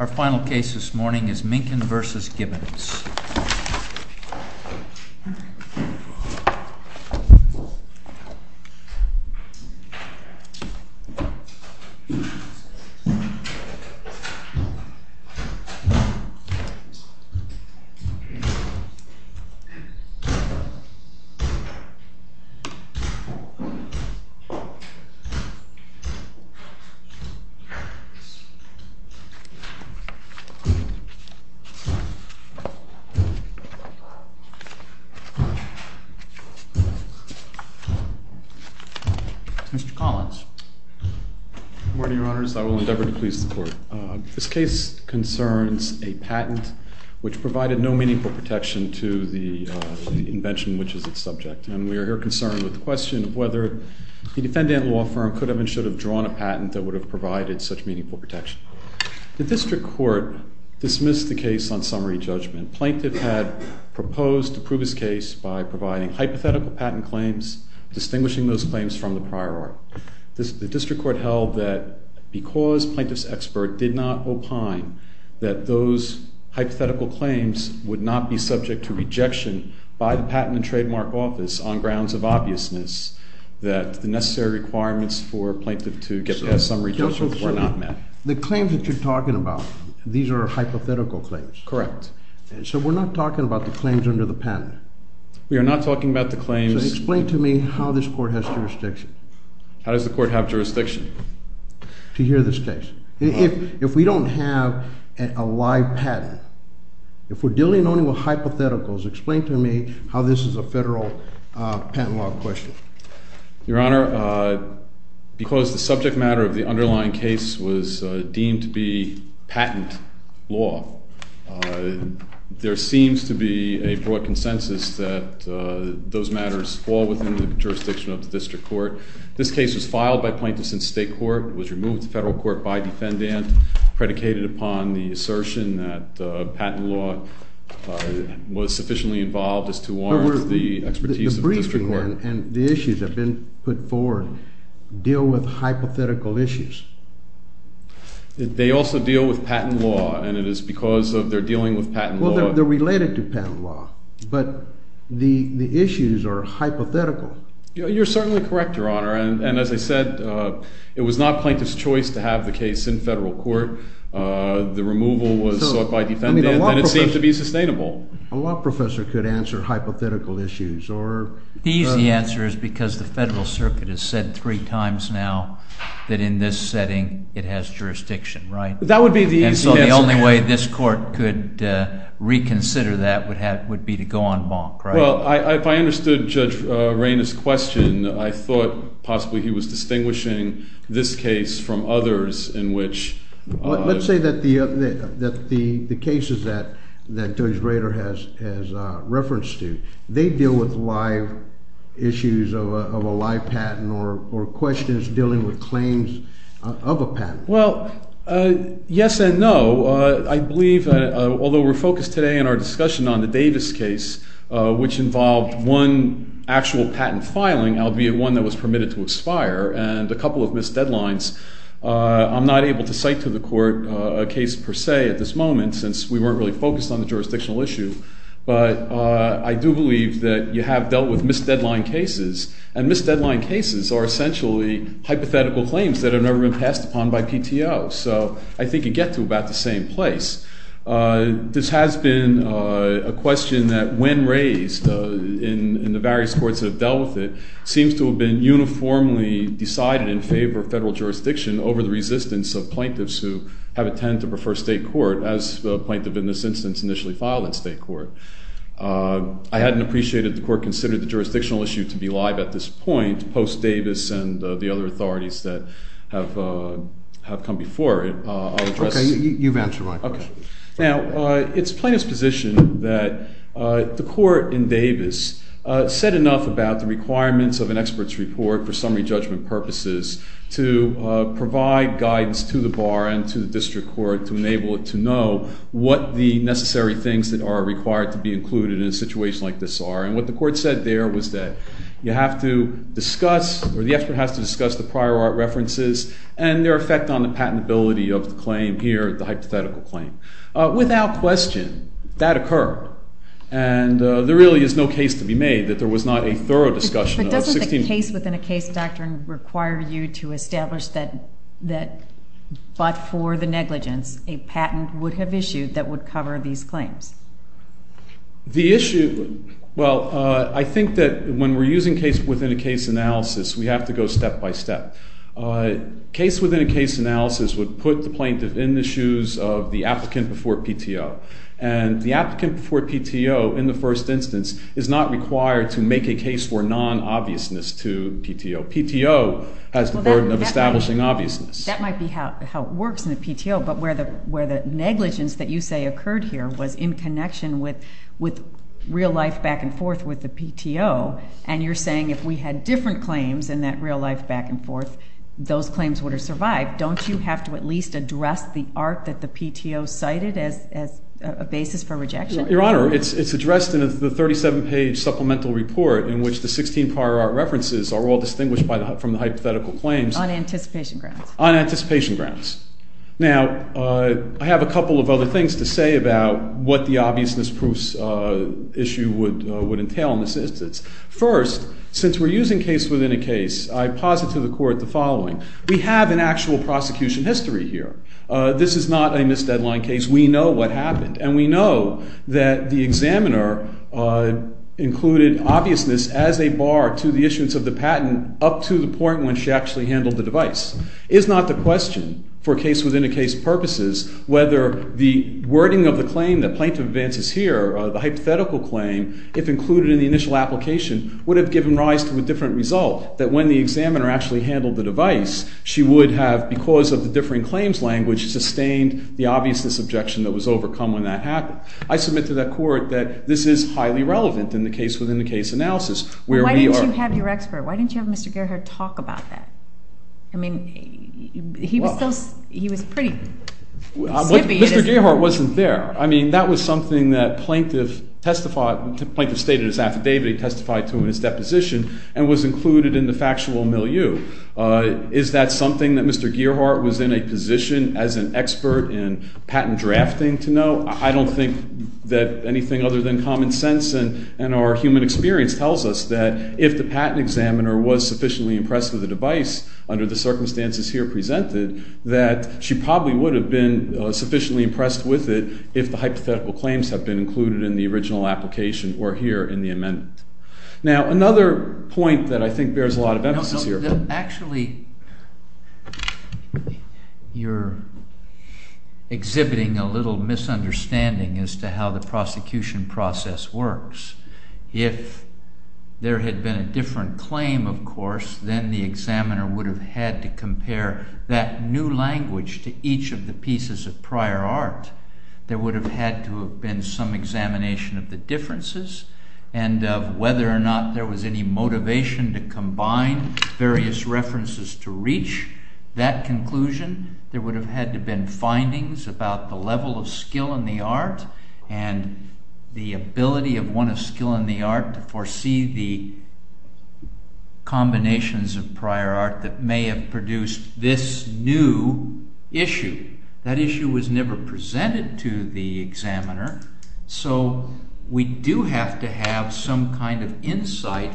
Our final case this morning is MINKIN v. GIBBONS. Mr. Collins. Good morning, Your Honors. I will endeavor to please the Court. This case concerns a patent which provided no meaningful protection to the invention which is its subject. And we are here concerned with the question of whether the defendant law firm could have and should have drawn a patent that would have provided such meaningful protection. The district court dismissed the case on summary judgment. Plaintiff had proposed to prove his case by providing hypothetical patent claims, distinguishing those claims from the prior art. The district court held that because plaintiff's expert did not opine that those hypothetical claims would not be subject to rejection by the Patent and Trademark Office on grounds of obviousness, that the necessary requirements for plaintiff to get past summary judgment were not met. The claims that you're talking about, these are hypothetical claims? Correct. So we're not talking about the claims under the patent? We are not talking about the claims. Explain to me how this court has jurisdiction. How does the court have jurisdiction? To hear this case. If we don't have a live patent, if we're dealing only with hypotheticals, explain to me how this is a federal patent law question. Your Honor, because the subject matter of the underlying case was deemed to be patent law, there seems to be a broad consensus that those matters fall within the jurisdiction of the district court. This case was filed by plaintiffs in state court, was removed to federal court by defendant, predicated upon the assertion that patent law was sufficiently involved as to warrant the expertise of the district court. And the issues that have been put forward deal with hypothetical issues. They also deal with patent law, and it is because they're dealing with patent law. Well, they're related to patent law, but the issues are hypothetical. You're certainly correct, Your Honor, and as I said, it was not plaintiff's choice to have the case in federal court. The removal was sought by defendant, and it seems to be sustainable. A law professor could answer hypothetical issues. The easy answer is because the federal circuit has said three times now that in this setting it has jurisdiction, right? That would be the easy answer. And so the only way this court could reconsider that would be to go on bonk, right? Well, if I understood Judge Rainer's question, I thought possibly he was distinguishing this case from others in which… Let's say that the cases that Judge Rainer has referenced to, they deal with live issues of a live patent or questions dealing with claims of a patent. Well, yes and no. I believe, although we're focused today in our discussion on the Davis case, which involved one actual patent filing, albeit one that was permitted to expire, and a couple of missed deadlines, I'm not able to cite to the court a case per se at this moment since we weren't really focused on the jurisdictional issue. But I do believe that you have dealt with missed deadline cases, and missed deadline cases are essentially hypothetical claims that have never been passed upon by PTO. So I think you get to about the same place. This has been a question that, when raised in the various courts that have dealt with it, seems to have been uniformly decided in favor of federal jurisdiction over the resistance of plaintiffs who have intended to prefer state court, as the plaintiff in this instance initially filed in state court. I hadn't appreciated the court considered the jurisdictional issue to be live at this point, post Davis and the other authorities that have come before it. Okay. You've answered my question. Now, it's plaintiff's position that the court in Davis said enough about the requirements of an expert's report for summary judgment purposes to provide guidance to the bar and to the district court to enable it to know what the necessary things that are required to be included in a situation like this are. And what the court said there was that you have to discuss, or the expert has to discuss the prior art references and their effect on the patentability of the claim here, the hypothetical claim. Without question, that occurred. And there really is no case to be made that there was not a thorough discussion of 16— But doesn't the case-within-a-case doctrine require you to establish that, but for the negligence, a patent would have issued that would cover these claims? The issue—well, I think that when we're using case-within-a-case analysis, we have to go step-by-step. Case-within-a-case analysis would put the plaintiff in the shoes of the applicant before PTO. And the applicant before PTO in the first instance is not required to make a case for non-obviousness to PTO. PTO has the burden of establishing obviousness. That might be how it works in the PTO, but where the negligence that you say occurred here was in connection with real-life back-and-forth with the PTO, and you're saying if we had different claims in that real-life back-and-forth, those claims would have survived. Don't you have to at least address the art that the PTO cited as a basis for rejection? Your Honor, it's addressed in the 37-page supplemental report in which the 16 prior art references are all distinguished from the hypothetical claims. On anticipation grounds. Now, I have a couple of other things to say about what the obviousness proofs issue would entail in this instance. First, since we're using case-within-a-case, I posit to the court the following. We have an actual prosecution history here. This is not a missed deadline case. We know what happened, and we know that the examiner included obviousness as a bar to the issuance of the patent up to the point when she actually handled the device. It is not the question for case-within-a-case purposes whether the wording of the claim that Plaintiff advances here, the hypothetical claim, if included in the initial application, would have given rise to a different result, that when the examiner actually handled the device, she would have, because of the differing claims language, sustained the obviousness objection that was overcome when that happened. I submit to the court that this is highly relevant in the case-within-a-case analysis. Why didn't you have your expert? Why didn't you have Mr. Gerhard talk about that? I mean, he was pretty snippy. Mr. Gerhard wasn't there. I mean, that was something that Plaintiff stated in his affidavit he testified to in his deposition and was included in the factual milieu. Is that something that Mr. Gerhard was in a position as an expert in patent drafting to know? I don't think that anything other than common sense and our human experience tells us that if the patent examiner was sufficiently impressed with the device, under the circumstances here presented, that she probably would have been sufficiently impressed with it if the hypothetical claims had been included in the original application or here in the amendment. Now, another point that I think bears a lot of emphasis here— is to how the prosecution process works. If there had been a different claim, of course, then the examiner would have had to compare that new language to each of the pieces of prior art. There would have had to have been some examination of the differences and of whether or not there was any motivation to combine various references to reach that conclusion. There would have had to have been findings about the level of skill in the art and the ability of one of skill in the art to foresee the combinations of prior art that may have produced this new issue. That issue was never presented to the examiner, so we do have to have some kind of insight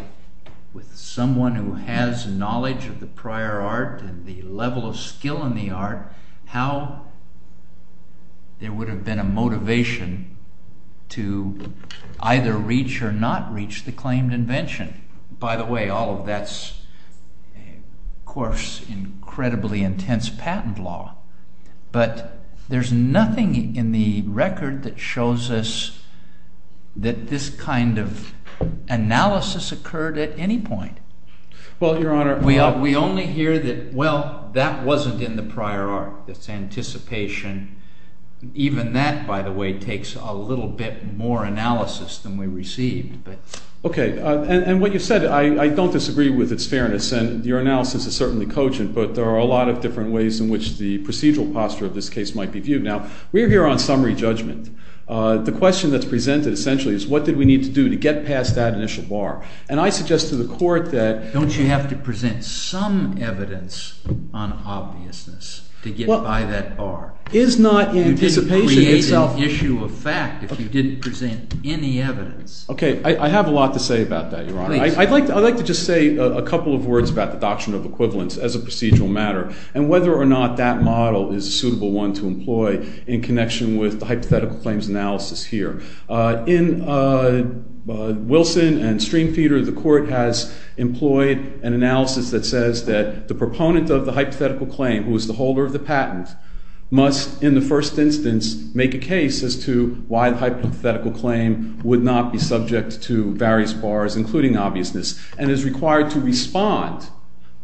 with someone who has knowledge of the prior art and the level of skill in the art how there would have been a motivation to either reach or not reach the claimed invention. By the way, all of that is, of course, incredibly intense patent law. But there's nothing in the record that shows us that this kind of analysis occurred at any point. We only hear that, well, that wasn't in the prior art. That's anticipation. Even that, by the way, takes a little bit more analysis than we received. Okay, and what you said, I don't disagree with its fairness, and your analysis is certainly cogent, but there are a lot of different ways in which the procedural posture of this case might be viewed. Now, we're here on summary judgment. The question that's presented, essentially, is what did we need to do to get past that initial bar? And I suggest to the court that— Don't you have to present some evidence on obviousness to get by that bar? Is not anticipation itself— You didn't create an issue of fact if you didn't present any evidence. Okay, I have a lot to say about that, Your Honor. Please. I'd like to just say a couple of words about the doctrine of equivalence as a procedural matter and whether or not that model is a suitable one to employ in connection with the hypothetical claims analysis here. In Wilson and Streamfeeder, the court has employed an analysis that says that the proponent of the hypothetical claim, who is the holder of the patent, must, in the first instance, make a case as to why the hypothetical claim would not be subject to various bars, including obviousness, and is required to respond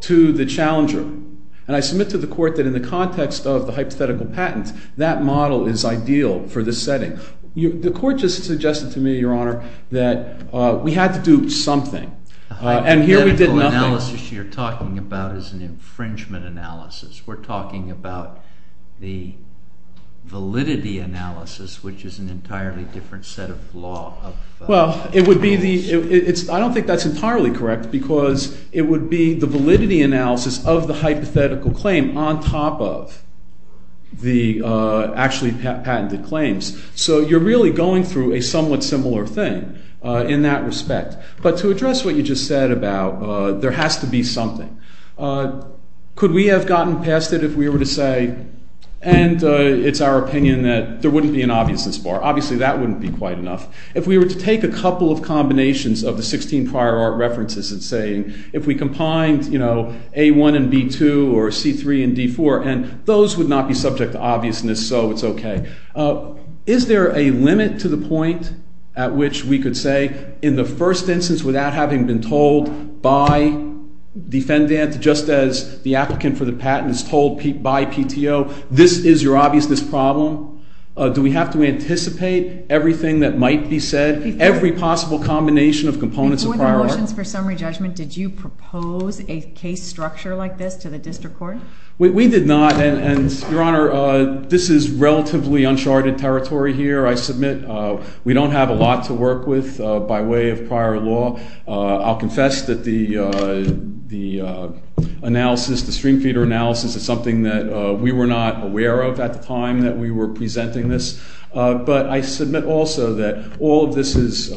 to the challenger. And I submit to the court that in the context of the hypothetical patent, that model is ideal for this setting. The court just suggested to me, Your Honor, that we had to do something. The hypothetical analysis you're talking about is an infringement analysis. We're talking about the validity analysis, which is an entirely different set of law. Well, I don't think that's entirely correct because it would be the validity analysis of the hypothetical claim on top of the actually patented claims. So you're really going through a somewhat similar thing in that respect. But to address what you just said about there has to be something, could we have gotten past it if we were to say, and it's our opinion that there wouldn't be an obviousness bar. Obviously, that wouldn't be quite enough. If we were to take a couple of combinations of the 16 prior art references and say, if we combined, you know, A1 and B2 or C3 and D4, and those would not be subject to obviousness, so it's okay. Is there a limit to the point at which we could say in the first instance without having been told by defendant, just as the applicant for the patent is told by PTO, this is your obviousness problem? Do we have to anticipate everything that might be said, every possible combination of components of prior art? Before the motions for summary judgment, did you propose a case structure like this to the district court? We did not. And, Your Honor, this is relatively uncharted territory here, I submit. We don't have a lot to work with by way of prior law. I'll confess that the analysis, the stream feeder analysis is something that we were not aware of at the time that we were presenting this. But I submit also that all of this is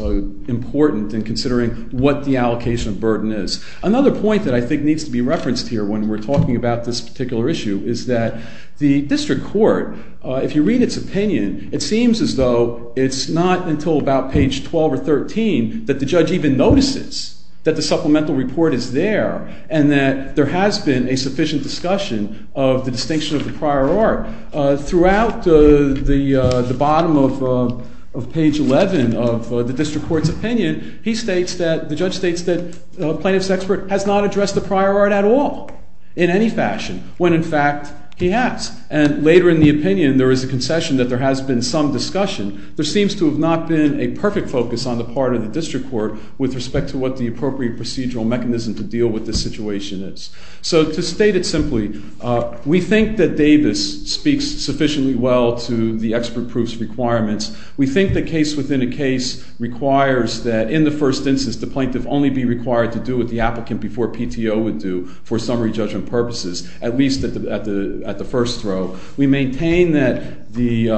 important in considering what the allocation of burden is. Another point that I think needs to be referenced here when we're talking about this particular issue is that the district court, if you read its opinion, it seems as though it's not until about page 12 or 13 that the judge even notices that the supplemental report is there and that there has been a sufficient discussion of the distinction of the prior art. Throughout the bottom of page 11 of the district court's opinion, the judge states that plaintiff's expert has not addressed the prior art at all in any fashion, when in fact he has. And later in the opinion, there is a concession that there has been some discussion. There seems to have not been a perfect focus on the part of the district court with respect to what the appropriate procedural mechanism to deal with this situation is. So to state it simply, we think that Davis speaks sufficiently well to the expert proofs requirements. We think the case within a case requires that in the first instance the plaintiff only be required to do what the applicant before PTO would do for summary judgment purposes, at least at the first throw. We maintain that the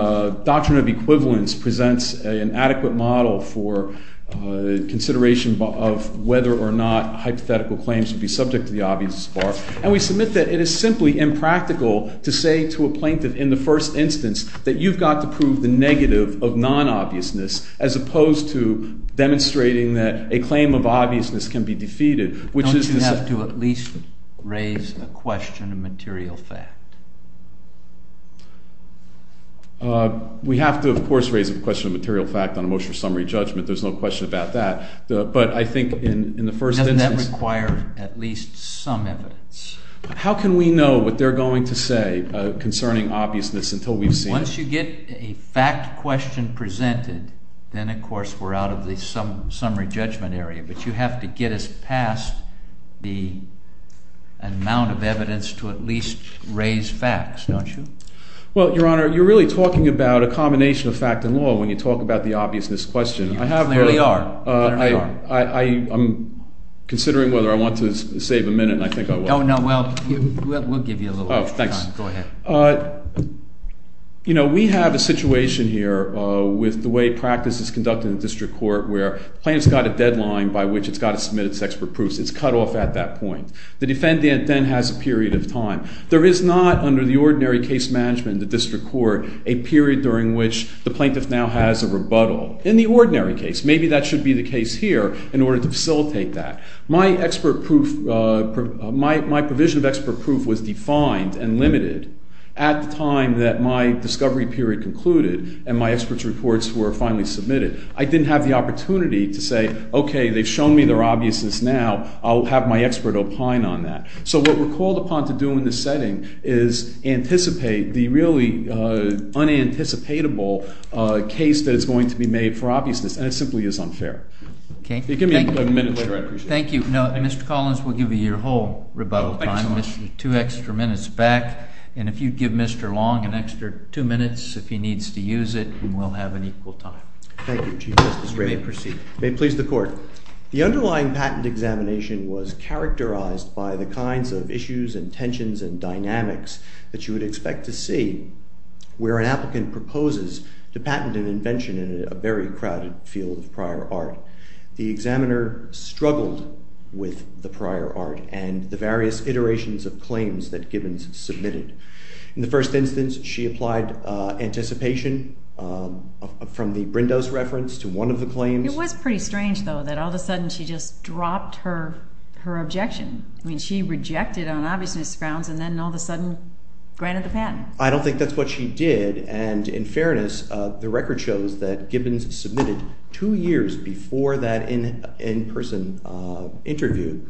doctrine of equivalence presents an adequate model for consideration of whether or not hypothetical claims should be subject to the obvious bar. And we submit that it is simply impractical to say to a plaintiff in the first instance that you've got to prove the negative of non-obviousness, as opposed to demonstrating that a claim of obviousness can be defeated. Don't you have to at least raise a question of material fact? We have to, of course, raise a question of material fact on a motion of summary judgment. There's no question about that. But I think in the first instance— Doesn't that require at least some evidence? How can we know what they're going to say concerning obviousness until we've seen it? Once you get a fact question presented, then of course we're out of the summary judgment area. But you have to get us past the amount of evidence to at least raise facts, don't you? Well, Your Honor, you're really talking about a combination of fact and law when you talk about the obviousness question. You clearly are. I'm considering whether I want to save a minute, and I think I will. Oh, no. Well, we'll give you a little extra time. Oh, thanks. Go ahead. You know, we have a situation here with the way practice is conducted in the district court where the plaintiff's got a deadline by which it's got to submit its expert proofs. It's cut off at that point. The defendant then has a period of time. There is not, under the ordinary case management in the district court, a period during which the plaintiff now has a rebuttal. In the ordinary case, maybe that should be the case here in order to facilitate that. My provision of expert proof was defined and limited at the time that my discovery period concluded and my experts' reports were finally submitted. I didn't have the opportunity to say, okay, they've shown me their obviousness now. I'll have my expert opine on that. So what we're called upon to do in this setting is anticipate the really unanticipatable case that is going to be made for obviousness, and it simply is unfair. Okay? Give me a minute later. I appreciate it. Thank you. No, Mr. Collins, we'll give you your whole rebuttal time. Two extra minutes back, and if you'd give Mr. Long an extra two minutes if he needs to use it, we'll have an equal time. Thank you, Chief Justice Ray. You may proceed. May it please the court. The underlying patent examination was characterized by the kinds of issues and tensions and dynamics that you would expect to see where an applicant proposes to patent an invention in a very crowded field of prior art. The examiner struggled with the prior art and the various iterations of claims that Gibbons submitted. In the first instance, she applied anticipation from the Brindos reference to one of the claims. It was pretty strange, though, that all of a sudden she just dropped her objection. I mean, she rejected on obviousness grounds and then all of a sudden granted the patent. I don't think that's what she did, and in fairness, the record shows that Gibbons submitted two years before that in-person interview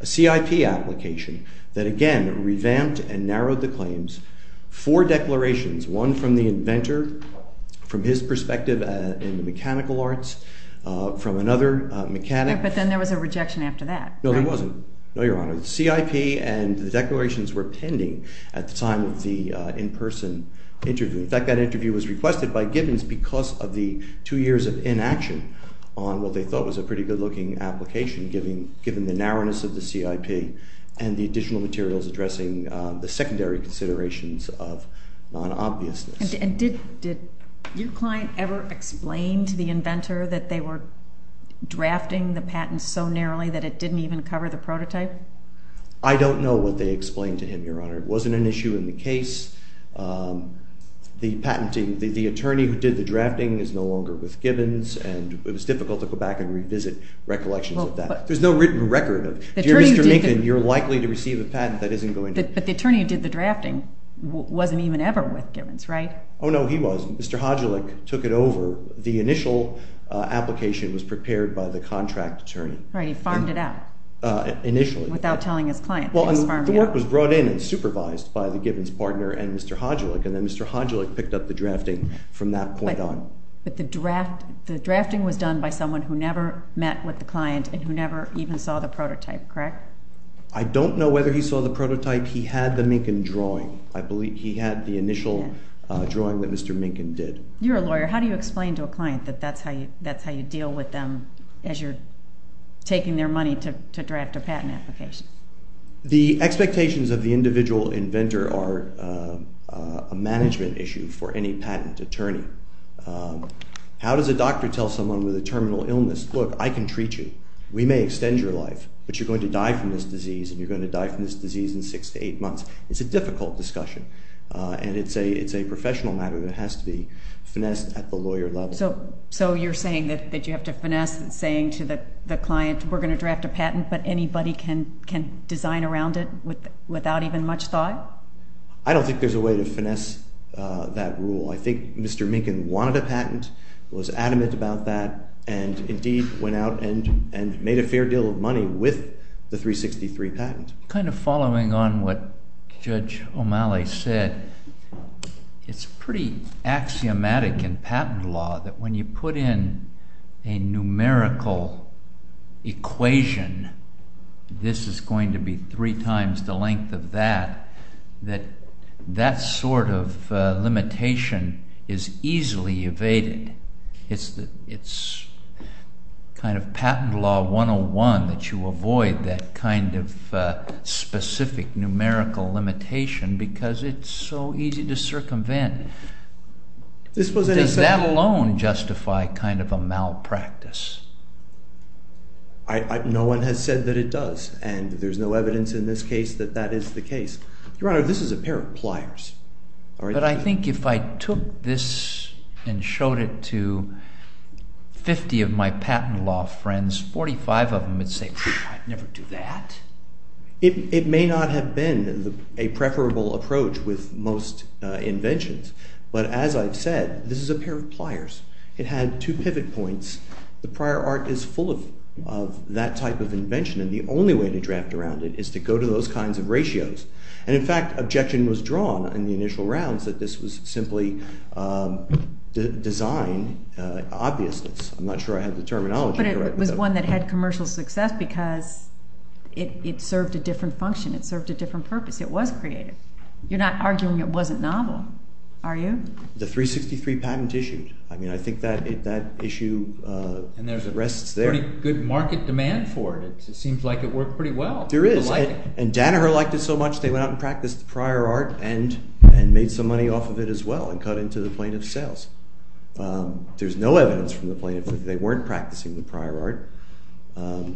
a CIP application that, again, revamped and narrowed the claims. Four declarations, one from the inventor, from his perspective in the mechanical arts, from another mechanic. But then there was a rejection after that. No, there wasn't. No, Your Honor. The CIP and the declarations were pending at the time of the in-person interview. In fact, that interview was requested by Gibbons because of the two years of inaction on what they thought was a pretty good-looking application, given the narrowness of the CIP and the additional materials addressing the secondary considerations of non-obviousness. And did your client ever explain to the inventor that they were drafting the patent so narrowly that it didn't even cover the prototype? I don't know what they explained to him, Your Honor. It wasn't an issue in the case. The attorney who did the drafting is no longer with Gibbons, and it was difficult to go back and revisit recollections of that. There's no written record of, Dear Mr. Minkin, you're likely to receive a patent that isn't going to… But the attorney who did the drafting wasn't even ever with Gibbons, right? Oh, no, he was. Mr. Hodulik took it over. The initial application was prepared by the contract attorney. Right. He farmed it out. Initially. Without telling his client. The work was brought in and supervised by the Gibbons partner and Mr. Hodulik, and then Mr. Hodulik picked up the drafting from that point on. But the drafting was done by someone who never met with the client and who never even saw the prototype, correct? I don't know whether he saw the prototype. He had the Minkin drawing. I believe he had the initial drawing that Mr. Minkin did. You're a lawyer. How do you explain to a client that that's how you deal with them as you're taking their money to draft a patent application? The expectations of the individual inventor are a management issue for any patent attorney. How does a doctor tell someone with a terminal illness, look, I can treat you. We may extend your life, but you're going to die from this disease, and you're going to die from this disease in six to eight months. It's a difficult discussion, and it's a professional matter that has to be finessed at the lawyer level. So you're saying that you have to finesse saying to the client, we're going to draft a patent, but anybody can design around it without even much thought? I don't think there's a way to finesse that rule. I think Mr. Minkin wanted a patent, was adamant about that, and indeed went out and made a fair deal of money with the 363 patent. Kind of following on what Judge O'Malley said, it's pretty axiomatic in patent law that when you put in a numerical equation, this is going to be three times the length of that, that that sort of limitation is easily evaded. It's kind of patent law 101 that you avoid that kind of specific numerical limitation, because it's so easy to circumvent. Does that alone justify kind of a malpractice? No one has said that it does, and there's no evidence in this case that that is the case. Your Honor, this is a pair of pliers. But I think if I took this and showed it to 50 of my patent law friends, 45 of them would say, I'd never do that. It may not have been a preferable approach with most inventions, but as I've said, this is a pair of pliers. It had two pivot points. The prior art is full of that type of invention, and the only way to draft around it is to go to those kinds of ratios. And in fact, objection was drawn in the initial rounds that this was simply design obviousness. I'm not sure I have the terminology. But it was one that had commercial success because it served a different function. It served a different purpose. It was creative. You're not arguing it wasn't novel, are you? The 363 patent issued. I mean, I think that issue rests there. And there's a pretty good market demand for it. It seems like it worked pretty well. There is. And Danaher liked it so much they went out and practiced the prior art and made some money off of it as well and cut into the plaintiff's sales. There's no evidence from the plaintiff that they weren't practicing the prior art.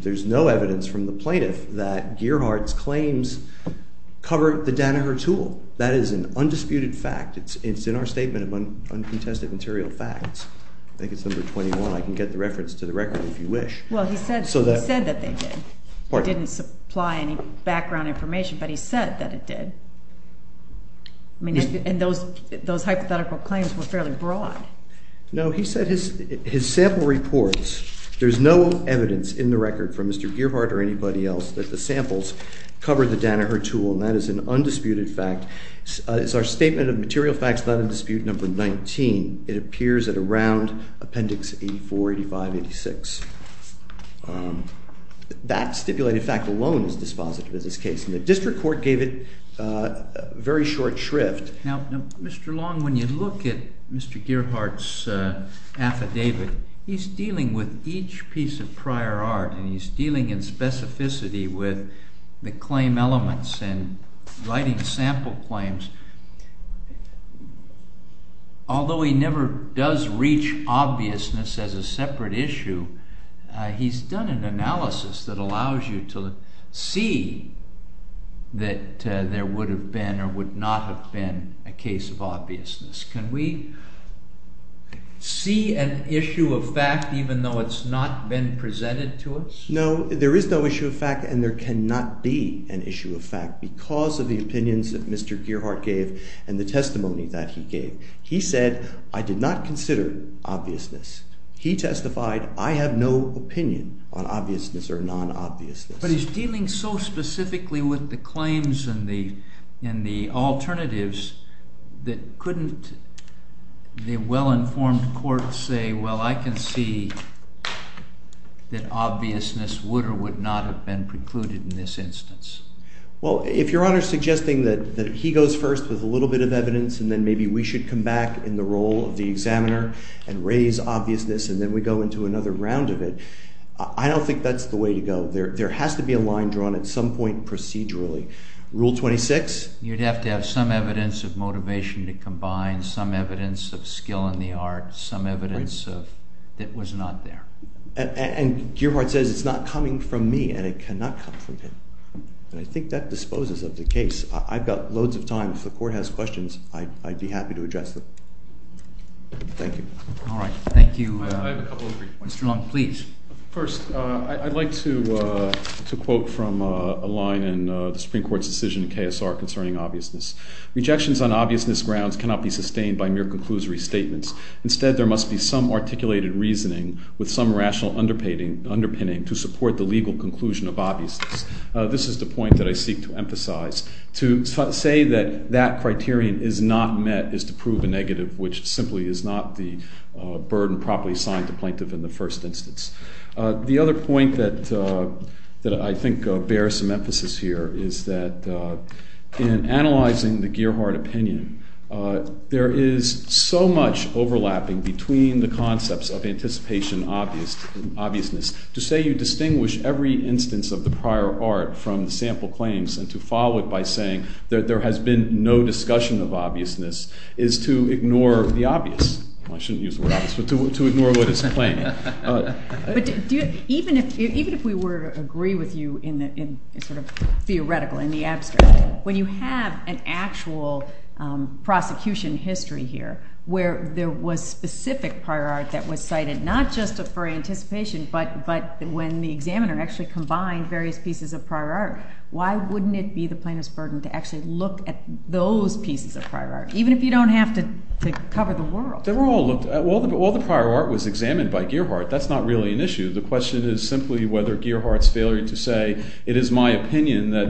There's no evidence from the plaintiff that Gearhart's claims covered the Danaher tool. That is an undisputed fact. It's in our statement of uncontested material facts. I think it's number 21. I can get the reference to the record if you wish. Well, he said that they did. He didn't supply any background information, but he said that it did. And those hypothetical claims were fairly broad. No, he said his sample reports, there's no evidence in the record from Mr. Gearhart or anybody else that the samples covered the Danaher tool. And that is an undisputed fact. It's our statement of material facts, not in dispute number 19. It appears at around Appendix 84, 85, 86. That stipulated fact alone is dispositive of this case, and the district court gave it very short shrift. Now, Mr. Long, when you look at Mr. Gearhart's affidavit, he's dealing with each piece of prior art, and he's dealing in specificity with the claim elements and writing sample claims. Although he never does reach obviousness as a separate issue, he's done an analysis that allows you to see that there would have been or would not have been a case of obviousness. Can we see an issue of fact even though it's not been presented to us? No, there is no issue of fact, and there cannot be an issue of fact because of the opinions that Mr. Gearhart gave and the testimony that he gave. He said, I did not consider obviousness. He testified, I have no opinion on obviousness or non-obviousness. But he's dealing so specifically with the claims and the alternatives that couldn't the well-informed court say, well, I can see that obviousness would or would not have been precluded in this instance? Well, if Your Honor is suggesting that he goes first with a little bit of evidence and then maybe we should come back in the role of the examiner and raise obviousness and then we go into another round of it, I don't think that's the way to go. There has to be a line drawn at some point procedurally. Rule 26? You'd have to have some evidence of motivation to combine, some evidence of skill in the art, some evidence that was not there. And Gearhart says it's not coming from me and it cannot come from him. And I think that disposes of the case. I've got loads of time. If the court has questions, I'd be happy to address them. Thank you. All right. Thank you. Mr. Long, please. First, I'd like to quote from a line in the Supreme Court's decision in KSR concerning obviousness. Rejections on obviousness grounds cannot be sustained by mere conclusory statements. Instead, there must be some articulated reasoning with some rational underpinning to support the legal conclusion of obviousness. This is the point that I seek to emphasize. To say that that criterion is not met is to prove a negative, which simply is not the burden properly assigned to plaintiff in the first instance. The other point that I think bears some emphasis here is that in analyzing the Gearhart opinion, there is so much overlapping between the concepts of anticipation and obviousness. To say you distinguish every instance of the prior art from the sample claims and to follow it by saying there has been no discussion of obviousness is to ignore the obvious. I shouldn't use the word obvious, but to ignore what is plain. But even if we were to agree with you in sort of theoretical, in the abstract, when you have an actual prosecution history here where there was specific prior art that was cited not just for anticipation, but when the examiner actually combined various pieces of prior art, why wouldn't it be the plaintiff's burden to actually look at those pieces of prior art, even if you don't have to cover the world? They were all looked at. While the prior art was examined by Gearhart, that's not really an issue. The question is simply whether Gearhart's failure to say, it is my opinion that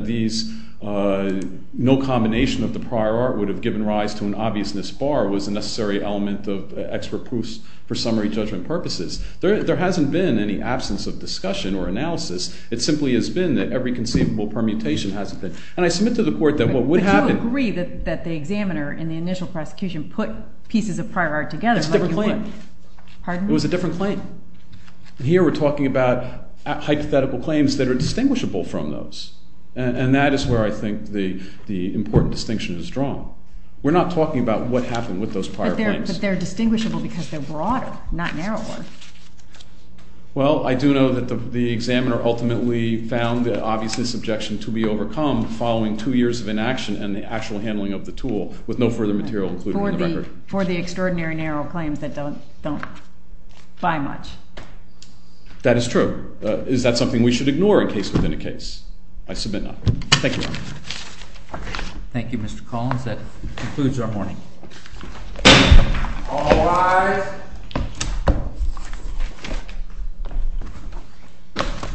no combination of the prior art would have given rise to an obviousness bar was a necessary element of extra proofs for summary judgment purposes. There hasn't been any absence of discussion or analysis. It simply has been that every conceivable permutation hasn't been. Would you agree that the examiner in the initial prosecution put pieces of prior art together like you would? It's a different claim. Pardon me? It was a different claim. Here we're talking about hypothetical claims that are distinguishable from those. And that is where I think the important distinction is drawn. We're not talking about what happened with those prior claims. But they're distinguishable because they're broader, not narrower. Well, I do know that the examiner ultimately found the obviousness objection to be overcome following two years of inaction and the actual handling of the tool with no further material included in the record. For the extraordinary narrow claims that don't buy much. That is true. Is that something we should ignore in case within a case? I submit not. Thank you. Thank you, Mr. Collins. That concludes our morning. All rise. Thank you.